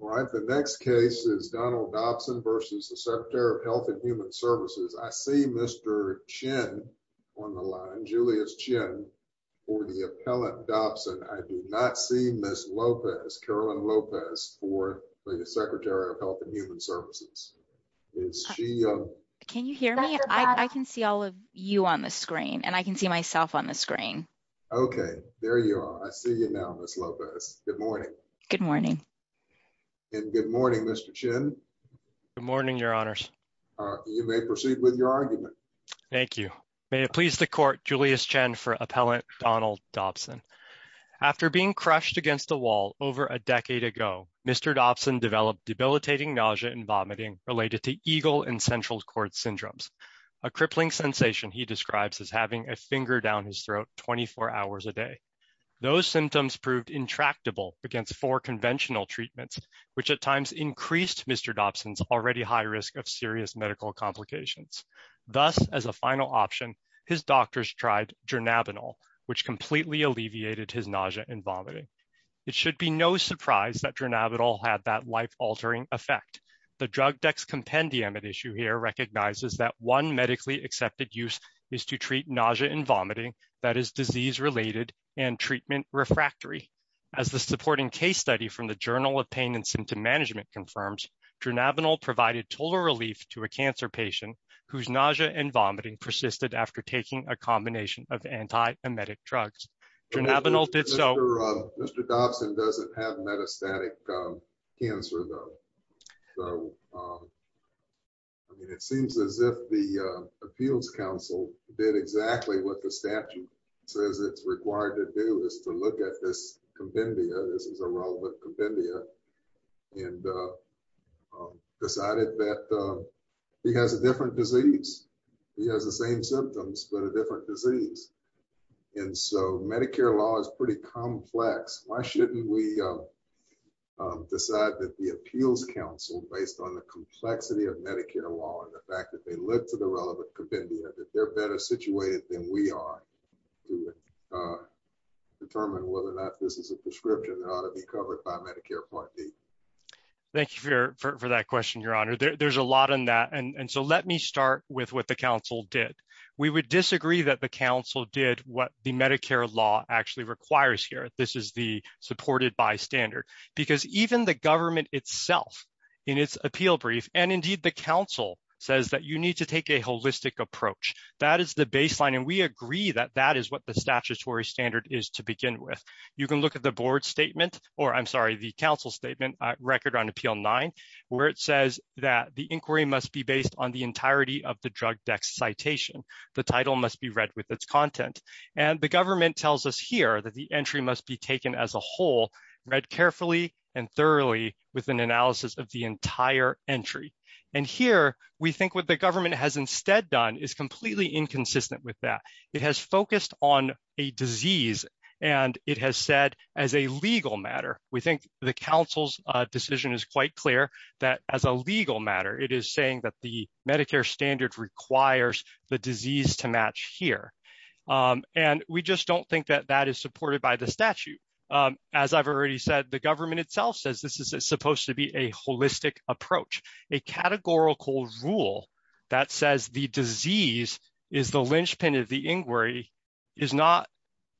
All right, the next case is Donald Dobson versus the Secretary of Health and Human Services. I see Mr. Chin on the line, Julius Chin for the appellant Dobson. I do not see Ms. Lopez, Carolyn Lopez for the Secretary of Health and Human Services. Is she? Can you hear me? I can see all of you on the screen and I can see myself on the screen. Okay, there you are. I see you now, Ms. Lopez. Good morning. Good morning. Good morning, Mr. Chin. Good morning, Your Honors. You may proceed with your argument. Thank you. May it please the Court, Julius Chin for appellant Donald Dobson. After being crushed against a wall over a decade ago, Mr. Dobson developed debilitating nausea and vomiting related to eagle and central cord syndromes, a crippling sensation he describes as having a finger down his throat 24 hours a day. Those symptoms proved intractable against four conventional treatments, which at times increased Mr. Dobson's already high risk of serious medical complications. Thus, as a final option, his doctors tried dronabinol, which completely alleviated his nausea and vomiting. It should be no surprise that dronabinol had that life-altering effect. The drug dexcompendium at issue here recognizes that one medically accepted use is to treat nausea and vomiting that is disease-related and treatment refractory. As the supporting case study from the Journal of Pain and Symptom Management confirms, dronabinol provided total relief to a cancer patient whose nausea and vomiting persisted after taking a combination of anti-emetic drugs. Dronabinol did so- Mr. Dobson doesn't have metastatic cancer, though. So, I mean, it seems as if the committee decided that he has a different disease. He has the same symptoms, but a different disease. And so Medicare law is pretty complex. Why shouldn't we decide that the appeals council, based on the complexity of Medicare law and the fact that they live to the relevant compendia, that they're better situated than we are to determine whether or not this is a prescription that ought to be covered by Medicare Part D? Thank you for that question, Your Honor. There's a lot in that. And so let me start with what the council did. We would disagree that the council did what the Medicare law actually requires here. This is the supported by standard. Because even the government itself, in its appeal brief, and indeed the council, says that you need to take a that is the baseline. And we agree that that is what the statutory standard is to begin with. You can look at the board statement, or I'm sorry, the council statement record on Appeal 9, where it says that the inquiry must be based on the entirety of the drug dex citation. The title must be read with its content. And the government tells us here that the entry must be taken as a whole, read carefully and thoroughly with an analysis of the entire entry. And here, we think the government has instead done is completely inconsistent with that. It has focused on a disease. And it has said, as a legal matter, we think the council's decision is quite clear that as a legal matter, it is saying that the Medicare standard requires the disease to match here. And we just don't think that that is supported by the statute. As I've already said, the government says this is supposed to be a holistic approach. A categorical rule that says the disease is the linchpin of the inquiry is not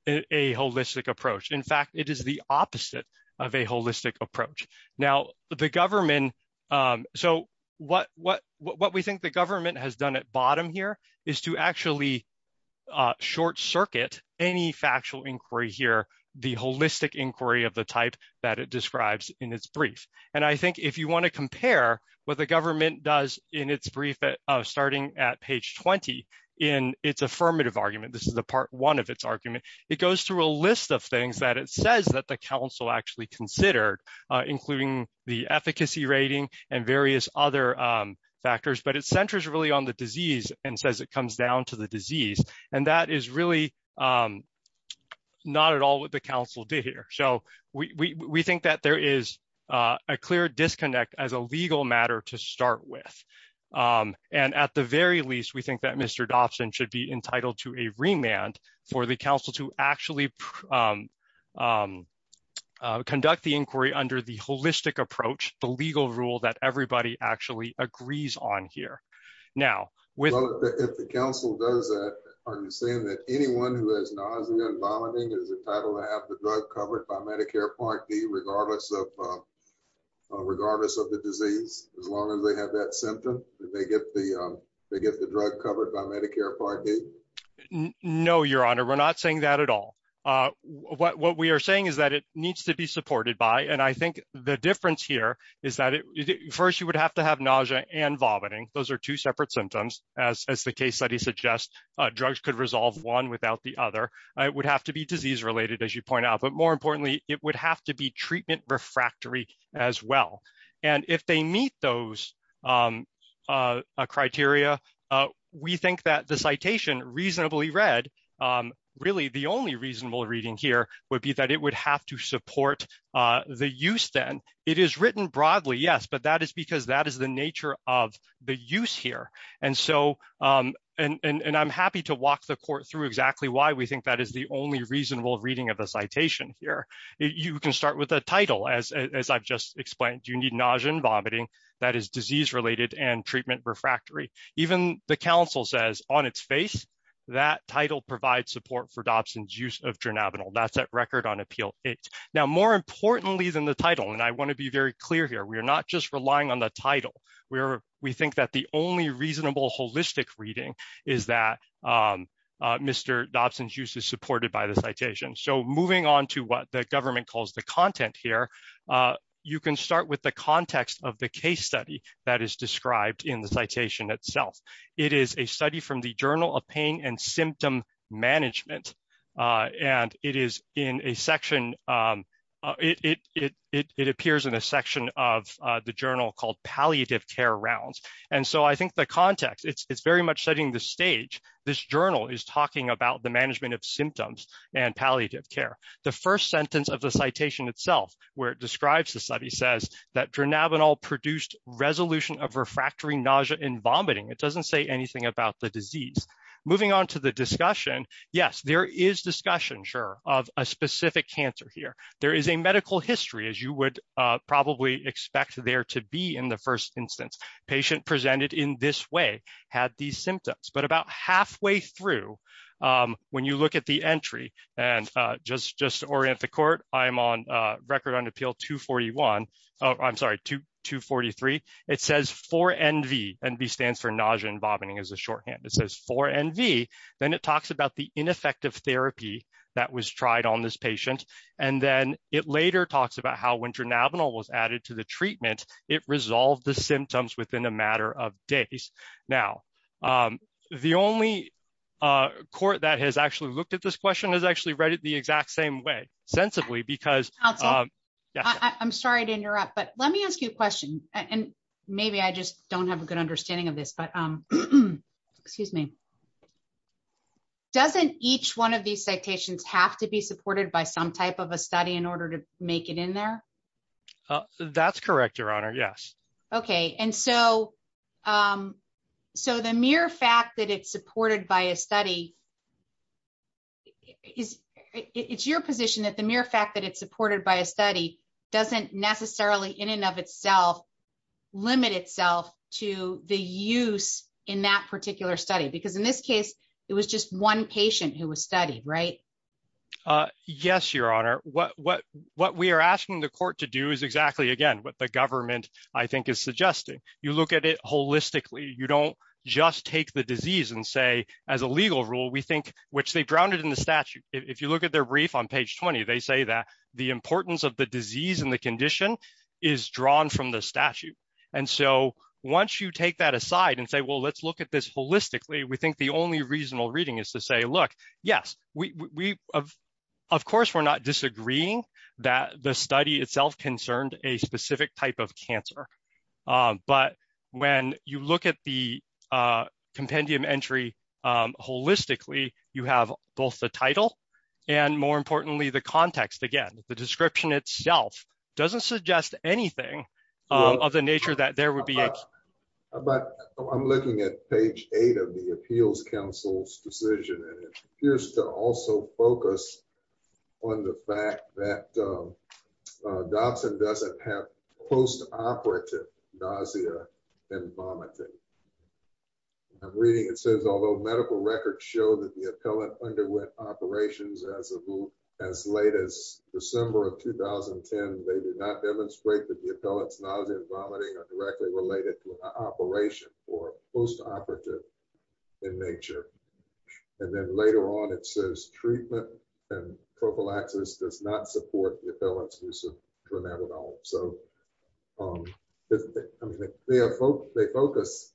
a holistic approach. In fact, it is the opposite of a holistic approach. Now, the government, so what we think the government has done at bottom here is to actually short circuit any factual inquiry here, the holistic inquiry of the type that it describes in its brief. And I think if you want to compare what the government does in its brief starting at page 20, in its affirmative argument, this is the part one of its argument, it goes through a list of things that it says that the council actually considered, including the efficacy rating and various other factors, but it centers really on the disease and says it comes down to the disease. And that is really not at all what the council did here. So we think that there is a clear disconnect as a legal matter to start with. And at the very least, we think that Mr. Dobson should be entitled to a remand for the council to actually conduct the inquiry under the holistic approach, the legal rule that everybody actually agrees on here. Now, if the council does that, are you saying that anyone who has nausea and vomiting is entitled to have the drug covered by Medicare Part D regardless of regardless of the disease, as long as they have that symptom, they get the they get the drug covered by Medicare Part D? No, Your Honor, we're not saying that at all. What we are saying is that it needs to be supported by and I think the difference here is that first, you would have to have nausea and vomiting. Those are two separate symptoms. As the case study suggests, drugs could resolve one without the other. It would have to be disease related, as you point out. But more importantly, it would have to be treatment refractory as well. And if they meet those criteria, we think that the citation reasonably read, really the only reasonable reading here would be that it would have to support the use then. It is written broadly, yes, but that is because that is the nature of the use here. And so and I'm happy to walk the court through exactly why we think that is the only reasonable reading of a citation here. You can start with the title, as I've just explained. You need nausea and vomiting that is disease related and treatment refractory. Even the council says on its face, that title provides support for Dobson's use of dronabinol. That's at record on appeal. Now, more importantly than the title, and I want to be very clear here, we are not just relying on the title. We think that the only reasonable holistic reading is that Mr. Dobson's use is supported by the citation. So moving on to what the government calls the content here, you can start with the context of the case study that is described in the citation itself. It is a study from the Journal of Pain and Symptom Management. And it is in a section, it appears in a section of the journal called Palliative Care Rounds. And so I think the context, it's very much setting the stage. This journal is talking about the management of symptoms and palliative care. The first sentence of the citation itself, where it describes the study, says that dronabinol produced resolution of refractory nausea and vomiting. It doesn't say anything about the disease. Moving on to the discussion, yes, there is discussion, sure, of a specific cancer here. There is a medical history, as you would probably expect there to be in the first instance. Patient presented in this way had these symptoms. But about halfway through, when you look at the entry, and just to orient the court, I'm on Record on Appeal 241, oh, I'm sorry, 243. It says 4NV. NV stands for nausea and vomiting as a shorthand. It says 4NV. Then it talks about the ineffective therapy that was tried on this patient. And then it later talks about how when dronabinol was added to the treatment, it resolved the symptoms within a matter of days. Now, the only court that has actually looked at this question has actually read it the exact same way, sensibly, because- I'm sorry to interrupt, but let me ask you a question. And maybe I just don't have a good understanding of this, but excuse me. Doesn't each one of these citations have to be supported by some type of a study in order to make it in there? That's correct, Your Honor. Yes. Okay. And so the mere fact that it's supported by a study, it's your position that the mere fact that it's supported by a study doesn't necessarily in and of itself limit itself to the use in that particular study? Because in this case, it was just one patient who was studied, right? Yes, Your Honor. What we are asking the court to do is exactly, again, what the government I think is suggesting. You look at it holistically. You don't just take the disease and say, as a legal rule, we think, which they've grounded in the statute. If you look at their brief on page 20, they say that the importance of the disease and condition is drawn from the statute. And so once you take that aside and say, well, let's look at this holistically, we think the only reasonable reading is to say, look, yes, we, of course, we're not disagreeing that the study itself concerned a specific type of cancer. But when you look at the compendium entry holistically, you have both the title and more importantly, the context. Again, the description itself doesn't suggest anything of the nature that there would be. But I'm looking at page eight of the Appeals Council's decision, and it appears to also focus on the fact that Dobson doesn't have post-operative nausea and vomiting. I'm reading it says, although medical records show that the appellant underwent operations as late as December of 2010, they did not demonstrate that the appellant's nausea and vomiting are directly related to an operation or post-operative in nature. And then later on, it says treatment and prophylaxis does not support the appellant's use of dronabinol. So I mean, they focus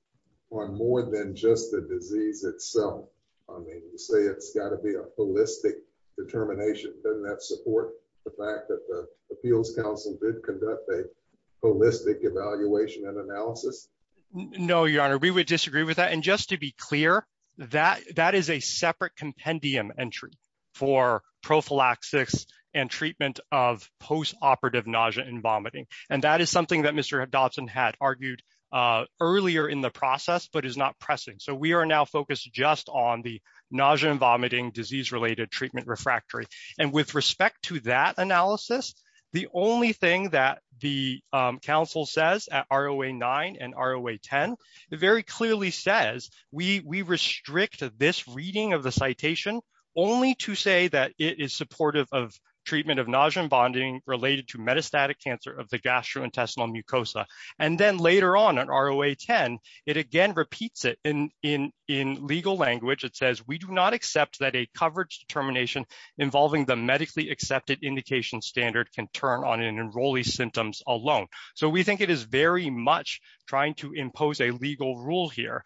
on more than just the disease itself. I mean, you say it's got to be a holistic determination. Doesn't that support the fact that the Appeals Council did conduct a holistic evaluation and analysis? No, your honor, we would disagree with that. And just to be clear, that is a separate compendium entry for prophylaxis and treatment of post-operative nausea and vomiting. And that is something that Mr. Dobson had argued earlier in the process, but is not pressing. So we are now focused just on the nausea and vomiting disease-related treatment refractory. And with respect to that analysis, the only thing that the Council says at ROA-9 and ROA-10, it very clearly says we restrict this reading of the citation only to say that it is supportive of treatment of nausea and vomiting related to metastatic cancer of the gastrointestinal mucosa. And then later on in ROA-10, it again repeats it in legal language. It says, we do not accept that a coverage determination involving the medically accepted indication standard can turn on an enrollee's symptoms alone. So we think it is very much trying to impose a legal rule here.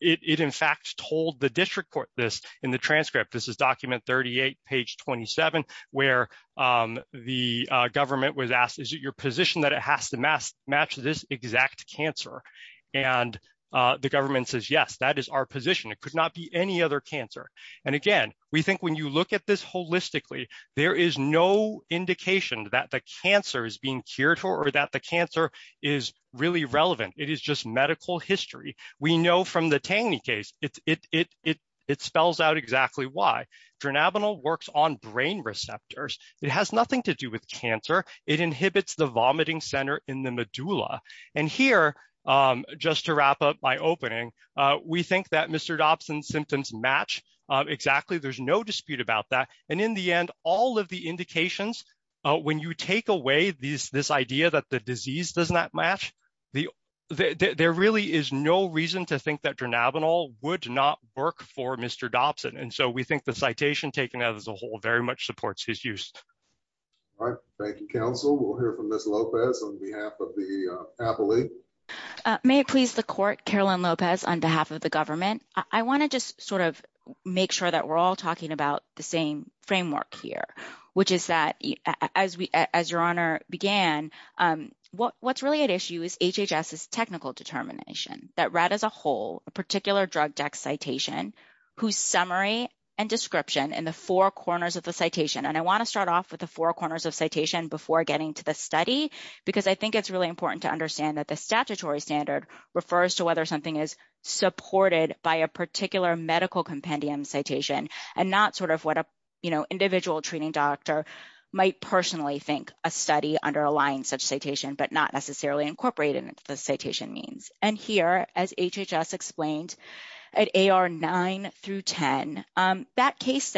It in fact told the district court this in the transcript. This is document 38, page 27, where the government was asked, is it your position that it has to match this exact cancer? And the government says, yes, that is our position. It could not be any other cancer. And again, we think when you look at this holistically, there is no indication that the cancer is being cured or that the cancer is really relevant. It is just medical history. We know from the Tangny case, it spells out exactly why. Dronabinol works on brain receptors. It has nothing to do with cancer. It inhibits the vomiting center in the medulla. And here, just to wrap up my opening, we think that Mr. Dobson's symptoms match exactly. There's no dispute about that. And in the end, all of the indications, when you take away this idea that the disease does not match, there really is no reason to think that Dronabinol would not work for Mr. Dobson. And so we think the citation taken as a whole very much supports his use. All right. Thank you, counsel. We'll hear from Ms. Lopez on behalf of the appellee. May it please the court, Carolyn Lopez, on behalf of the government. I want to just sort of make sure that we're all talking about the same framework here, which is that as your honor began, what's really at issue is HHS's technical determination that read as a whole a particular drug dex citation whose summary and description in the four corners of the citation. And I want to start off with the four corners of citation before getting to the study, because I think it's really important to understand that the statutory standard refers to whether something is supported by a particular medical compendium citation and not sort of what a, you know, individual treating doctor might personally think a study underlying such citation, but not necessarily incorporated into the citation means. And here, as HHS explained, at AR 9 through 10, that case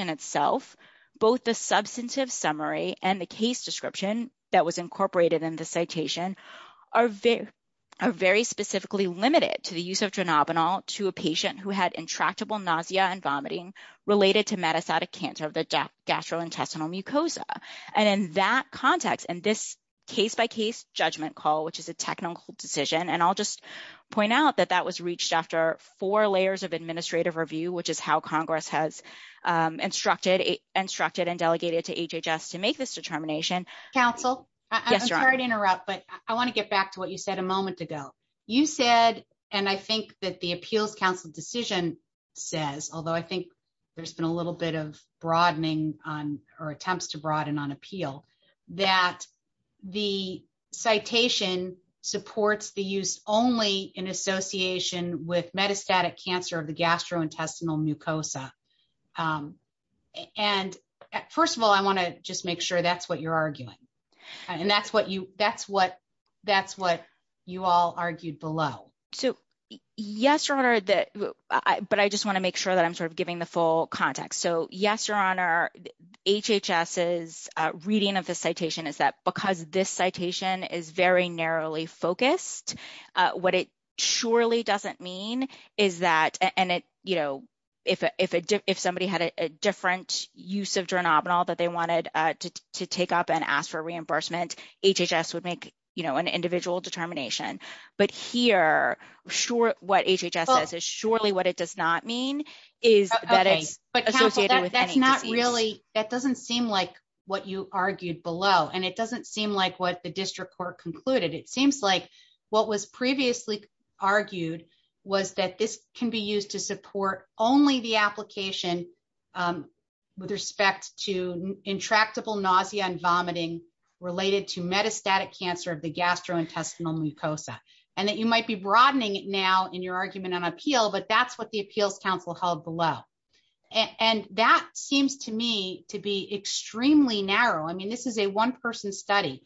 itself, both the substantive summary and the case description that was incorporated in the citation are very specifically limited to the use of dronabinol to a patient who had intractable nausea and vomiting related to metastatic cancer of the gastrointestinal mucosa. And in that context, in this case-by-case judgment call, which is a technical decision, and I'll just point out that that was reached after four layers of administrative review, which is how Congress has instructed and delegated to HHS to make this determination. Council, I'm sorry to interrupt, but I want to get back to what you said a moment ago. You said, and I think that the Appeals Council decision says, although I think there's been a little bit of broadening on or attempts to broaden on appeal, that the citation supports the use only in association with metastatic cancer of the gastrointestinal mucosa. And first of all, I want to just make sure that's what you're arguing. And that's what you all argued below. So, yes, Your Honor, but I just want to make sure that I'm sort of giving the full context. So, yes, Your Honor, HHS's reading of the citation is that because this citation is very narrowly focused, what it surely doesn't mean is that, and it, you know, if somebody had a different use of geranobinol that they wanted to take up and ask for reimbursement, HHS would make, you know, an individual determination. But here, what HHS says is surely what it does not mean is that it's associated with any disease. Okay, but Council, that's not really, that doesn't seem like what you argued below, and it doesn't seem like what the district court concluded. It seems like what was previously argued was that this can be used to support only the application with respect to intractable nausea and vomiting related to metastatic cancer of the gastrointestinal mucosa. And that you might be broadening it now in your argument on appeal, but that's what the appeals council held below. And that seems to me to be extremely narrow. I mean, this is a one-person study.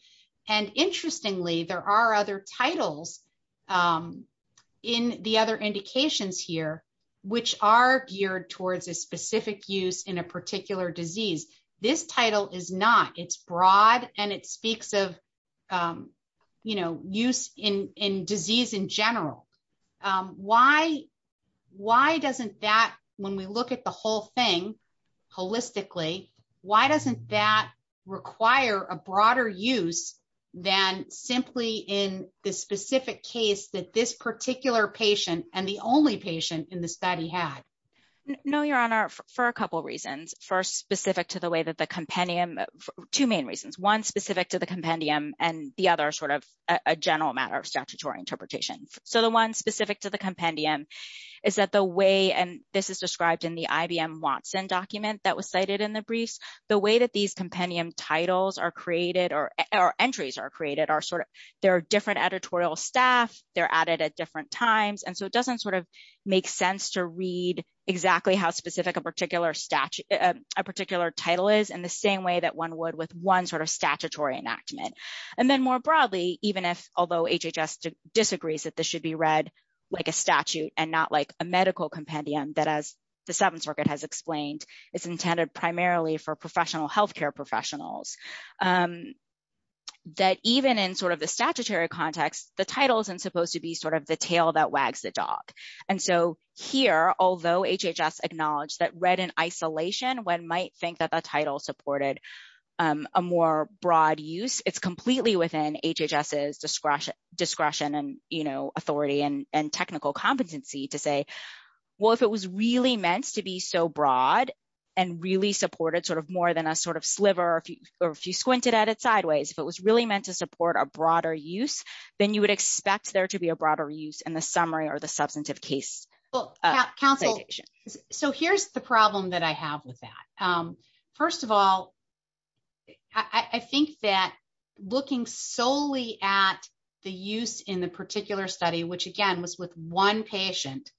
And interestingly, there are other titles in the other indications here, which are geared towards a specific use in a particular disease. This title is not. It's broad, and it speaks of, you know, use in disease in general. Why doesn't that, when we look at the whole thing holistically, why doesn't that require a broader use than simply in the specific case that this particular patient and the only patient in the study had? No, Your Honor, for a couple of reasons. First, specific to the way that the compendium, two main reasons, one specific to the compendium and the other sort of a general matter of statutory interpretation. So the one specific to compendium is that the way, and this is described in the IBM Watson document that was cited in the briefs, the way that these compendium titles are created or entries are created are sort of, they're different editorial staff, they're added at different times. And so it doesn't sort of make sense to read exactly how specific a particular title is in the same way that one would with one sort of statutory enactment. And then more broadly, even if, although HHS disagrees that this should be read like a statute and not like a medical compendium, that as the Seventh Circuit has explained, it's intended primarily for professional healthcare professionals, that even in sort of the statutory context, the title isn't supposed to be sort of the tail that wags the dog. And so here, although HHS acknowledged that read in isolation, one might think that the authority and technical competency to say, well, if it was really meant to be so broad and really supported sort of more than a sort of sliver, or if you squinted at it sideways, if it was really meant to support a broader use, then you would expect there to be a broader use in the summary or the substantive case. Well, counsel, so here's the problem that I have with that. First of all, I think that looking solely at the use in the particular study, which again, was with one patient,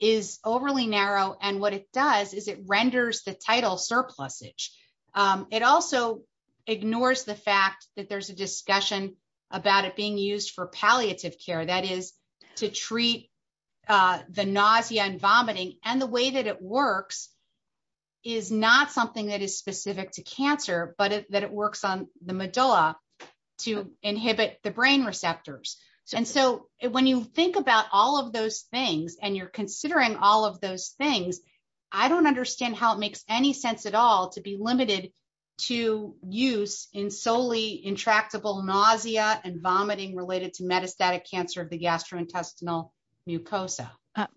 is overly narrow. And what it does is it renders the title surplusage. It also ignores the fact that there's a discussion about it being used for palliative care, that is to treat the nausea and vomiting. And the way that it works is not something that is specific to cancer, but that it works on the medulla to inhibit the brain receptors. And so when you think about all of those things, and you're considering all of those things, I don't understand how it makes any sense at all to be limited to use in solely intractable nausea and intestinal mucosa.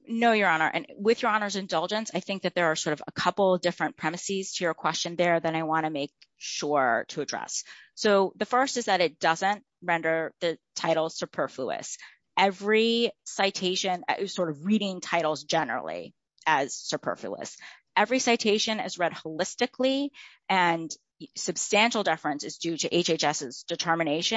No, Your Honor, and with Your Honor's indulgence, I think that there are sort of a couple of different premises to your question there that I want to make sure to address. So the first is that it doesn't render the title superfluous. Every citation, sort of reading titles generally as superfluous, every citation is read holistically, and substantial deference is due to HHS's expertise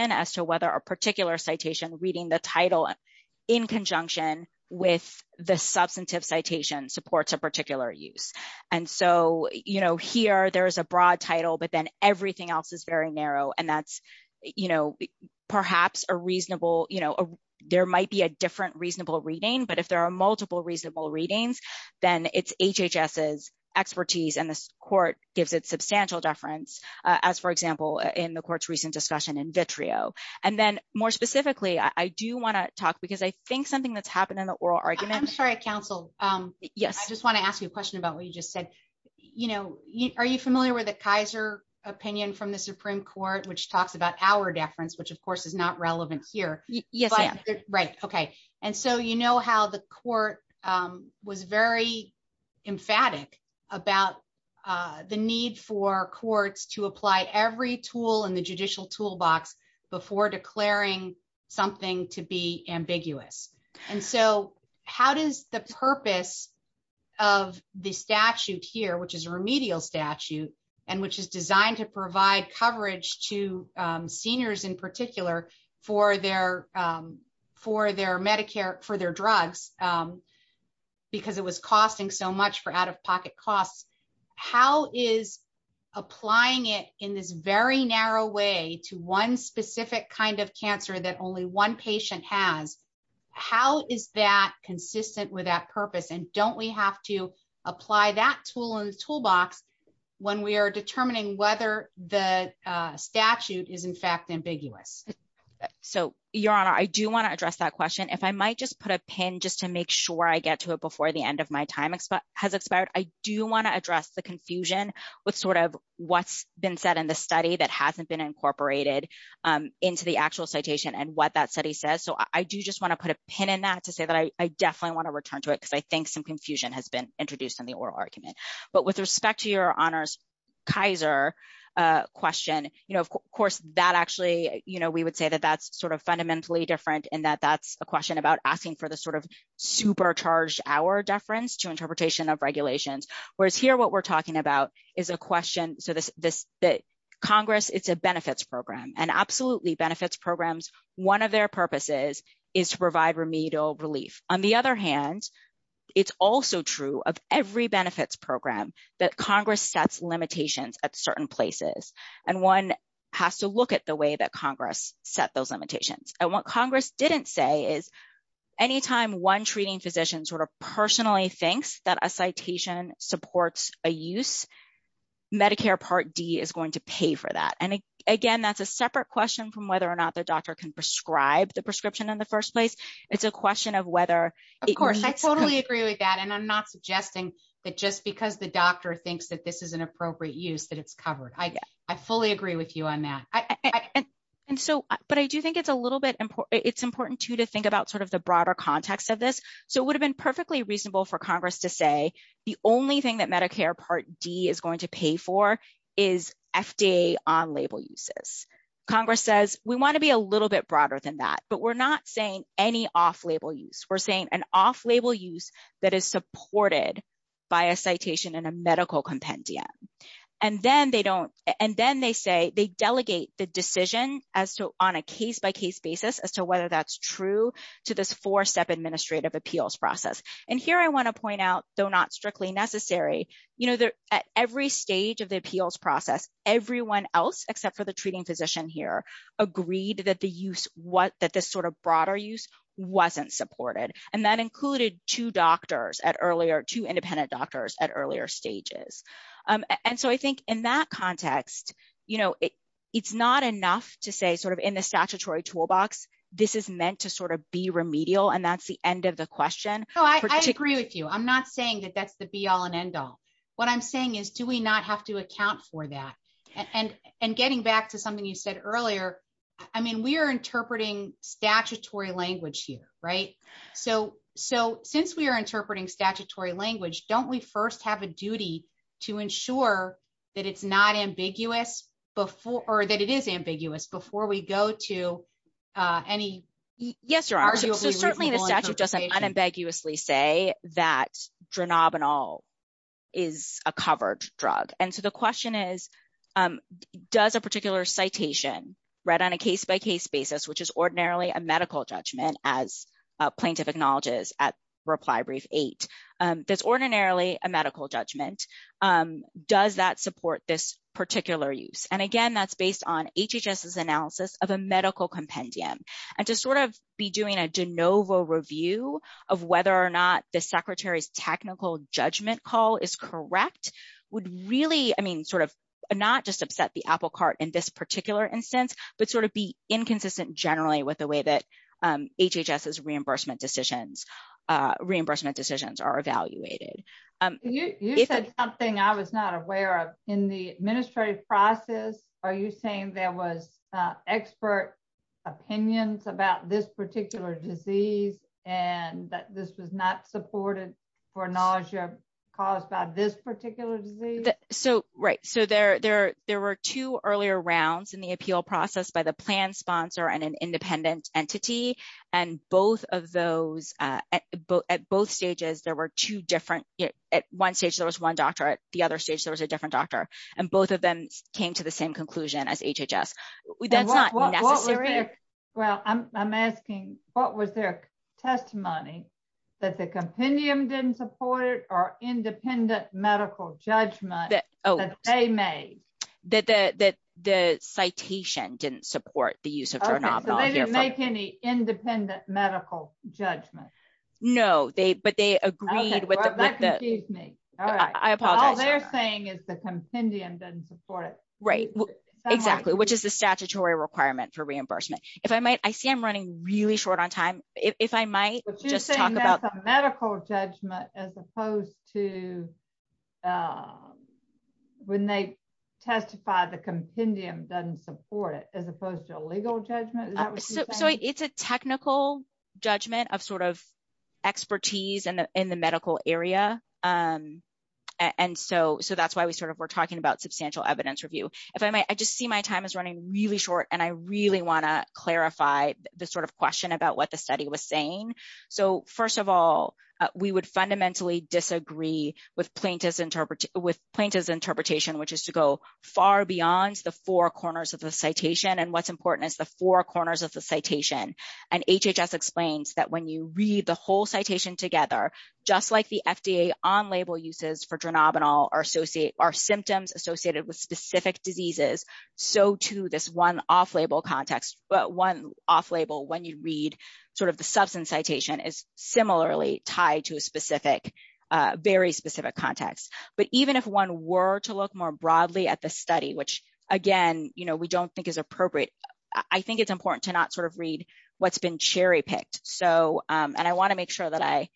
in conjunction with the substantive citation supports a particular use. And so, you know, here there's a broad title, but then everything else is very narrow, and that's, you know, perhaps a reasonable, you know, there might be a different reasonable reading, but if there are multiple reasonable readings, then it's HHS's expertise, and this Court gives it substantial deference, as for example, in the Court's recent discussion in vitreo. And then more specifically, I do want to talk, because I think something that's happened in the oral argument. I'm sorry, counsel, I just want to ask you a question about what you just said. You know, are you familiar with the Kaiser opinion from the Supreme Court, which talks about our deference, which of course is not relevant here? Yes, I am. Right, okay, and so you know how the Court was very emphatic about the need for And so, how does the purpose of the statute here, which is a remedial statute, and which is designed to provide coverage to seniors in particular for their Medicare, for their drugs, because it was costing so much for out-of-pocket costs, how is applying it in this very narrow way to one specific kind of cancer that only one patient has, how is that consistent with that purpose, and don't we have to apply that tool in the toolbox when we are determining whether the statute is in fact ambiguous? So, Your Honor, I do want to address that question. If I might just put a pin just to make sure I get to it before the end of my time has expired, I do want to address the confusion with sort of what's been said in the study that hasn't been incorporated into the actual citation and what that study says. So, I do just want to put a pin in that to say that I definitely want to return to it because I think some confusion has been introduced in the oral argument. But with respect to Your Honor's Kaiser question, you know, of course that actually, you know, we would say that that's sort of fundamentally different in that that's a question about asking for the sort of supercharged hour deference to interpretation of regulations, whereas here what we're talking about is a question. So, Congress, it's a benefits program, and absolutely benefits programs, one of their purposes is to provide remedial relief. On the other hand, it's also true of every benefits program that Congress sets limitations at certain places, and one has to look at the way that Congress set those limitations. And what Congress didn't say is, anytime one treating physician sort of personally thinks that a citation supports a use, Medicare Part D is going to pay for that. And again, that's a separate question from whether or not the doctor can prescribe the prescription in the first place. It's a question of whether- Of course, I totally agree with that, and I'm not suggesting that just because the doctor thinks that this is an appropriate use that it's covered. I fully agree with you on that. And so, but I do think it's a little bit important- it's important, too, to think about sort of the broader context of this. So, it would have been perfectly reasonable for Congress to say the only thing that Medicare Part D is going to pay for is FDA on-label uses. Congress says, we want to be a little bit broader than that, but we're not saying any off-label use. We're saying an off-label use that is supported by a citation and a medical compendium. And then they say they delegate the decision on a case-by-case basis as to whether that's true to this four-step administrative appeals process. And here, I want to point out, though not strictly necessary, at every stage of the appeals process, everyone else except for the treating physician here agreed that this sort of broader use wasn't supported. And that so I think in that context, you know, it's not enough to say sort of in the statutory toolbox, this is meant to sort of be remedial, and that's the end of the question. Oh, I agree with you. I'm not saying that that's the be-all and end-all. What I'm saying is, do we not have to account for that? And getting back to something you said earlier, I mean, we are interpreting statutory language here, right? So, since we are interpreting statutory language, don't we first have a duty to ensure that it's not ambiguous before or that it is ambiguous before we go to any... Yes, Your Honor. So, certainly the statute doesn't unambiguously say that dronabinol is a covered drug. And so the question is, does a particular citation read on a case-by-case basis, which is ordinarily a medical judgment as ordinarily a medical judgment, does that support this particular use? And again, that's based on HHS's analysis of a medical compendium. And to sort of be doing a de novo review of whether or not the Secretary's technical judgment call is correct would really, I mean, sort of not just upset the apple cart in this particular instance, but sort of be inconsistent generally with the reimbursement decisions are evaluated. You said something I was not aware of, in the administrative process, are you saying there was expert opinions about this particular disease and that this was not supported for nausea caused by this particular disease? So, right. So, there were two earlier rounds in the appeal process by the plan sponsor and independent entity. And both of those, at both stages, there were two different, at one stage, there was one doctor, at the other stage, there was a different doctor. And both of them came to the same conclusion as HHS. That's not necessary. Well, I'm asking, what was their testimony that the compendium didn't support or independent medical judgment that they made? That the citation didn't support the use of dronabinol. So, they didn't make any independent medical judgment? No, but they agreed with the... Okay, well, that confused me. All right. I apologize for that. All they're saying is the compendium doesn't support it. Right, exactly, which is the statutory requirement for reimbursement. If I might, I see I'm running really short on time. If I might just medical judgment, as opposed to when they testify, the compendium doesn't support it, as opposed to a legal judgment. So, it's a technical judgment of sort of expertise in the medical area. And so, that's why we're talking about substantial evidence review. If I might, I just see my time is running really short. And I really want to clarify the sort of question about what the study was saying. So, first of all, we would fundamentally disagree with plaintiff's interpretation, which is to go far beyond the four corners of the citation. And what's important is the four corners of the citation. And HHS explains that when you read the whole citation together, just like the FDA on-label uses for dronabinol are symptoms associated with specific diseases, so, too, this one off-label context, one off-label when you read sort of the substance citation is similarly tied to a specific, very specific context. But even if one were to look more broadly at the study, which, again, you know, we don't think is appropriate, I think it's important to not sort of read what's been cherry-picked. So, and I want to make sure that I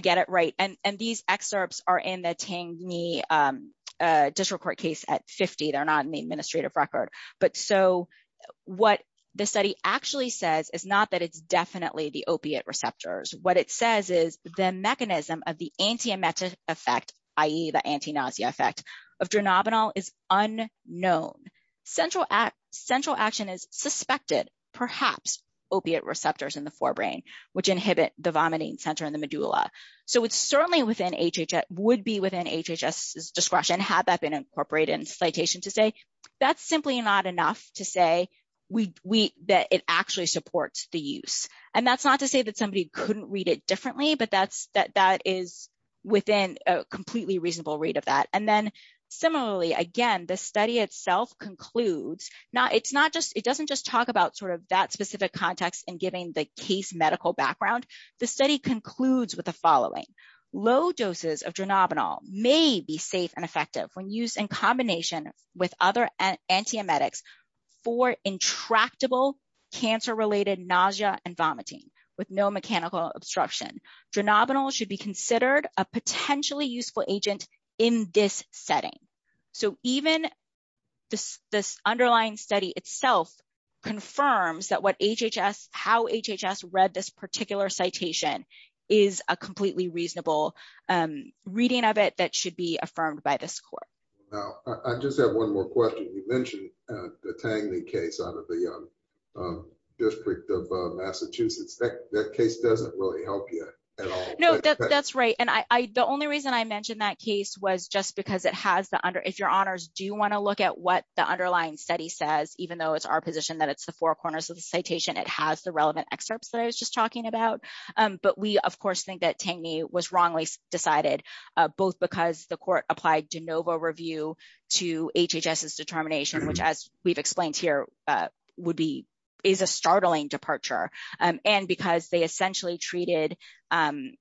get it right. And these excerpts are in the Tangny District Court case at 50. They're not in the administrative record. But so, what the study actually says is not that it's definitely the opiate receptors. What it says is the mechanism of the anti-emetic effect, i.e., the anti-nausea effect of dronabinol is unknown. Central action is suspected, perhaps opiate receptors in the forebrain, which inhibit the vomiting center in the medulla. So, it's certainly within HHS, would be within HHS's discretion had that been incorporated in citation to say that's simply not enough to say that it actually supports the use. And that's not to say that somebody couldn't read it differently, but that is within a completely reasonable read of that. And then, similarly, again, the study itself concludes, now, it's not just, it doesn't just talk about sort of that specific context in giving the case medical background. The study concludes with the following. Low doses of dronabinol may be safe and effective when used in combination with other anti-emetics for intractable cancer-related nausea and vomiting with no mechanical obstruction. Dronabinol should be considered a potentially useful agent in this setting. So, even this underlying study itself confirms that what HHS, how HHS read this particular citation is a completely reasonable reading of it that should be affirmed by this court. Now, I just have one more question. You mentioned the Tangley case out of the District of Massachusetts. That case doesn't really help you at all. No, that's right. And the only reason I mentioned that case was just because it has the under, if your honors do want to look at what the underlying study says, even though it's our position that it's the four corners of the citation, it has the relevant excerpts that I was just talking about. But we, of course, think that Tangley was wrongly decided, both because the court applied de novo review to HHS's determination, which as we've explained here, would be, is a startling departure. And because they essentially treated the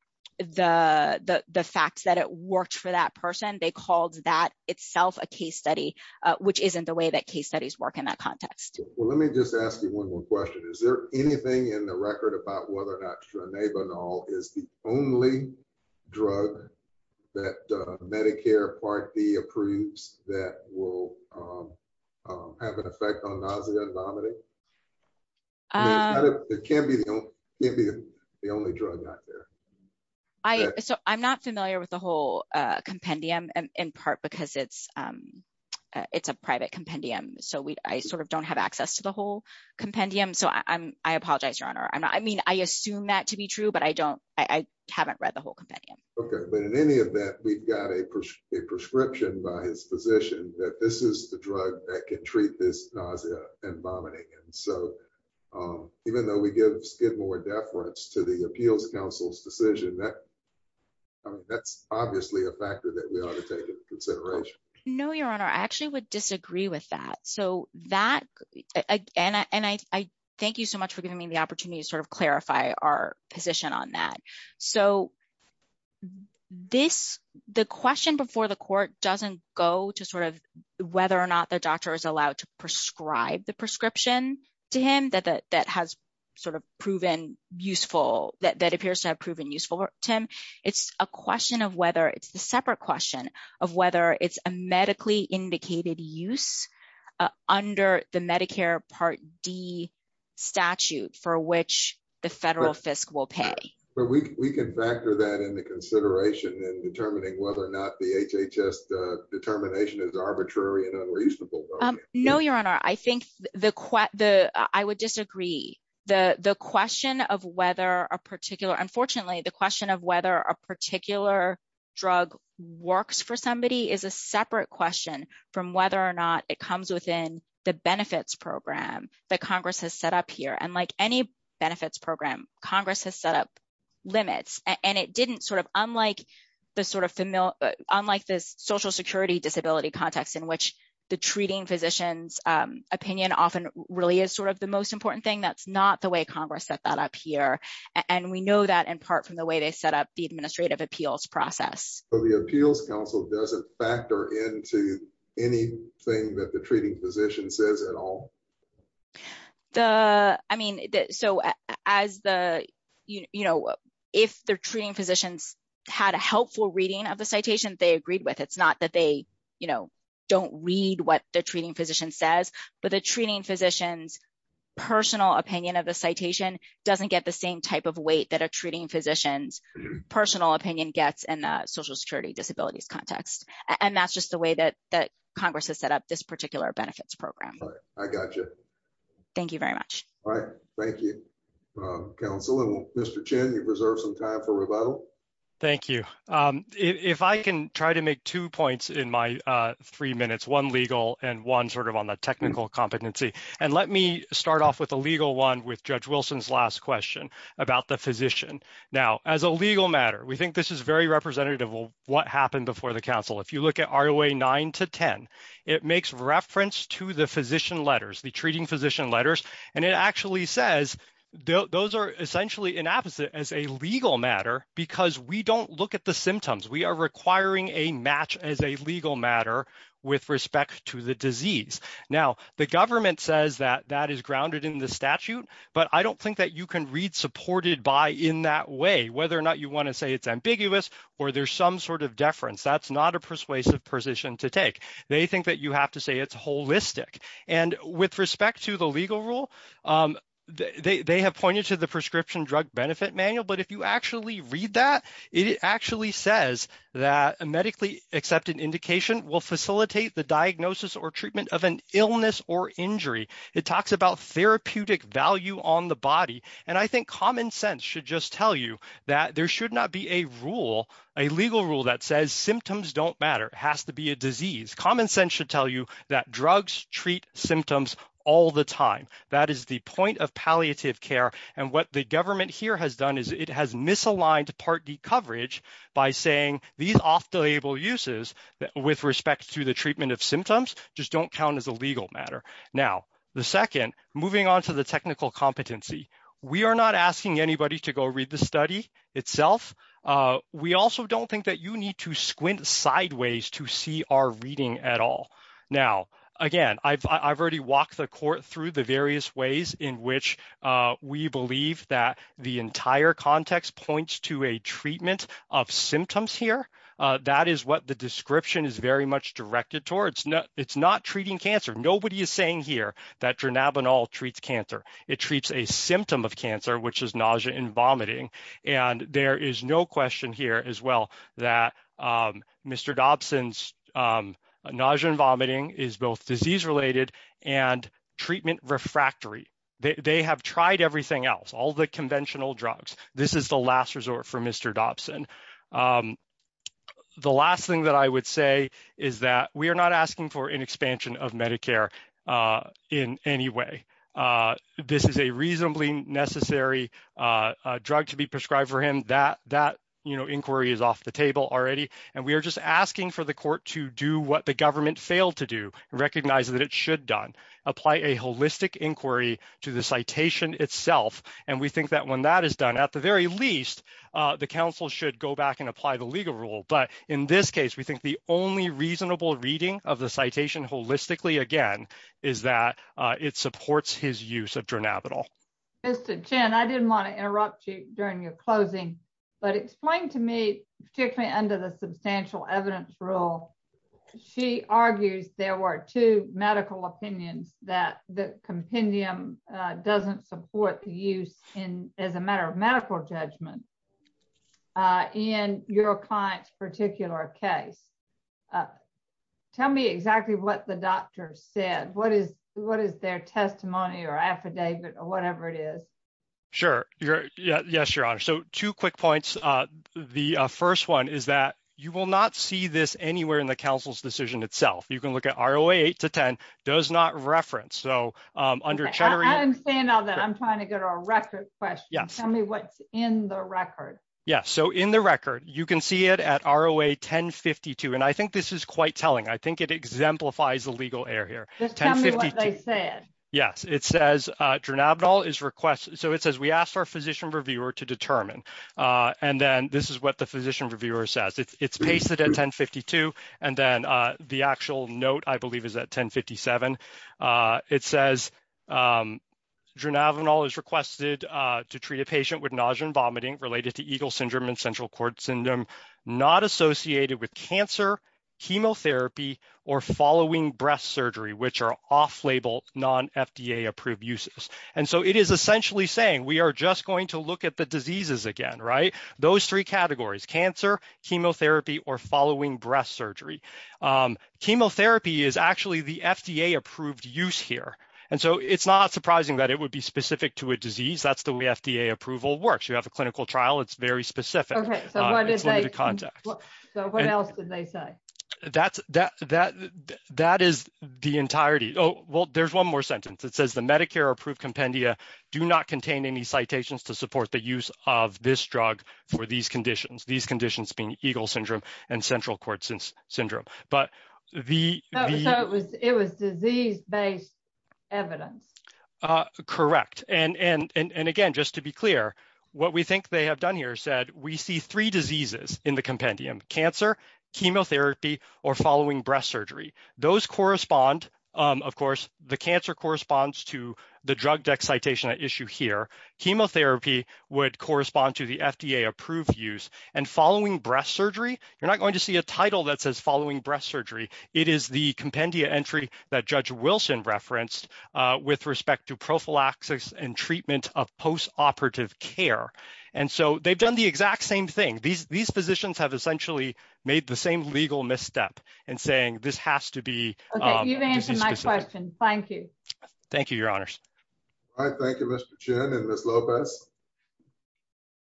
facts that it worked for that person, they called that itself a case study, which isn't the way that case studies work in that context. Well, let me just ask you one more question. Is there anything in the record about whether or not Dronabinol is the only drug that Medicare Part D approves that will have an effect on nausea and vomiting? It can be the only drug out there. So I'm not familiar with the whole compendium, in part because it's a private compendium, so I sort of don't have access to the whole compendium. So I apologize, Your Honor. I mean, I assume that to be true, but I don't, I haven't read the whole compendium. Okay. But in any event, we've got a prescription by his physician that this is the drug that can treat this nausea and vomiting. And so even though we give more deference to the appeals council's decision, that's obviously a factor that we ought to take into consideration. No, Your Honor, I actually would disagree with that. So that, and I thank you so much for giving the opportunity to sort of clarify our position on that. So this, the question before the court doesn't go to sort of whether or not the doctor is allowed to prescribe the prescription to him that has sort of proven useful, that appears to have proven useful, Tim. It's a question of whether, it's the separate question of whether it's a medically indicated use under the Medicare Part D statute for which the federal fiscal pay. But we can factor that into consideration in determining whether or not the HHS determination is arbitrary and unreasonable. No, Your Honor. I think the, I would disagree. The question of whether a particular, unfortunately, the question of whether a particular drug works for somebody is a separate question from whether or not it comes within the benefits program that Congress has set up here. And like any benefits program, Congress has set up limits and it didn't sort of, unlike the sort of, unlike this social security disability context in which the treating physician's opinion often really is sort of the most important thing. That's not the way Congress set that up here. And we know that in part from the way they set up the administrative appeals process. So the appeals council doesn't factor into anything that the treating physician says at all? The, I mean, so as the, you know, if the treating physicians had a helpful reading of the citation they agreed with, it's not that they, you know, don't read what the treating physician says, but the treating physician's personal opinion of the citation doesn't get the same type of weight that a treating physician's personal opinion gets in a social security disabilities context. And that's just the way that Congress has set up this particular benefits program. All right. I got you. Thank you very much. All right. Thank you, counsel. And Mr. Chen, you've reserved some time for rebuttal. Thank you. If I can try to make two points in my three minutes, one legal and one sort of on the technical competency. And let me start off with a legal one with Judge Wilson's last question about the physician. Now, as a legal matter, we think this is very representative of what happened before the council. If you look at ROA 9 to 10, it makes reference to the physician letters, the treating physician letters. And it actually says those are essentially inapposite as a legal matter, because we don't look at the symptoms. We are requiring a match as a legal matter with respect to the disease. Now, the government says that that is grounded in the statute. But I don't think that you can read supported by in that way, whether or not you want to say it's ambiguous or there's some sort of deference. That's not a persuasive position to take. They think that you have to say it's holistic. And with respect to the legal rule, they have pointed to the prescription drug benefit manual. But if you actually read that, it actually says that a medically accepted indication will facilitate the diagnosis or treatment of an illness or injury. It talks about therapeutic value on the body. And I think common sense should just tell you that there should not be a rule, a legal rule that says symptoms don't matter. It has to be a disease. Common sense should tell you that drugs treat symptoms all the time. That is the point of palliative care. And what the government here has done is it has misaligned Part D coverage by saying these off-the-label uses with respect to treatment of symptoms just don't count as a legal matter. Now, the second, moving on to the technical competency. We are not asking anybody to go read the study itself. We also don't think that you need to squint sideways to see our reading at all. Now, again, I've already walked the court through the various ways in which we believe that the entire context points to a treatment of symptoms here. That is what the description is very much directed towards. It's not treating cancer. Nobody is saying here that dronabinol treats cancer. It treats a symptom of cancer, which is nausea and vomiting. And there is no question here as well that Mr. Dobson's nausea and vomiting is both disease-related and treatment refractory. They have tried everything else, all the conventional The last thing that I would say is that we are not asking for an expansion of Medicare in any way. This is a reasonably necessary drug to be prescribed for him. That inquiry is off the table already. And we are just asking for the court to do what the government failed to do, recognize that it should done, apply a holistic inquiry to the citation itself. And we think that that is done, at the very least, the council should go back and apply the legal rule. But in this case, we think the only reasonable reading of the citation holistically, again, is that it supports his use of dronabinol. Mr. Chen, I didn't want to interrupt you during your closing, but explain to me, particularly under the substantial evidence rule, she argues there were two medical opinions that the compendium doesn't support the use as a matter of medical judgment in your client's particular case. Tell me exactly what the doctor said. What is their testimony or affidavit or whatever it is? Sure. Yes, Your Honor. So two quick points. The first one is that you will not see this anywhere in the council's decision itself. You can look at ROA 8 to 10 does not reference. So I'm saying now that I'm trying to get a record question. Tell me what's in the record. Yes. So in the record, you can see it at ROA 1052. And I think this is quite telling. I think it exemplifies the legal error here. Just tell me what they said. Yes. It says dronabinol is requested. So it says we asked our physician reviewer to determine. And then this is what the physician reviewer says. It's pasted at 1052. And then the actual note, I believe, is at 1057. It says dronabinol is requested to treat a patient with nausea and vomiting related to Eagle syndrome and central cord syndrome not associated with cancer, chemotherapy or following breast surgery, which are off label non FDA approved uses. And so it is essentially saying we are just going to look at the diseases again, right? Those three categories, cancer, chemotherapy or following breast surgery. Chemotherapy is actually the FDA approved use here. And so it's not surprising that it would be specific to a disease. That's the way FDA approval works. You have a clinical trial. It's very specific. So what else did they say? That is the entirety. Oh, well, there's one more sentence. It says the Medicare approved compendia do not contain any citations to support the use of this drug for these conditions. These being Eagle syndrome and central cord syndrome. But it was disease based evidence. Correct. And again, just to be clear, what we think they have done here said we see three diseases in the compendium, cancer, chemotherapy or following breast surgery. Those correspond, of course, the cancer corresponds to the drug excitation issue here. Chemotherapy would respond to the FDA approved use and following breast surgery. You're not going to see a title that says following breast surgery. It is the compendium entry that Judge Wilson referenced with respect to prophylaxis and treatment of post-operative care. And so they've done the exact same thing. These physicians have essentially made the same legal misstep and saying this has to be. You've answered my question. Thank you. Thank you, your honors. I thank you, Mr. Chen and Ms. Lopez.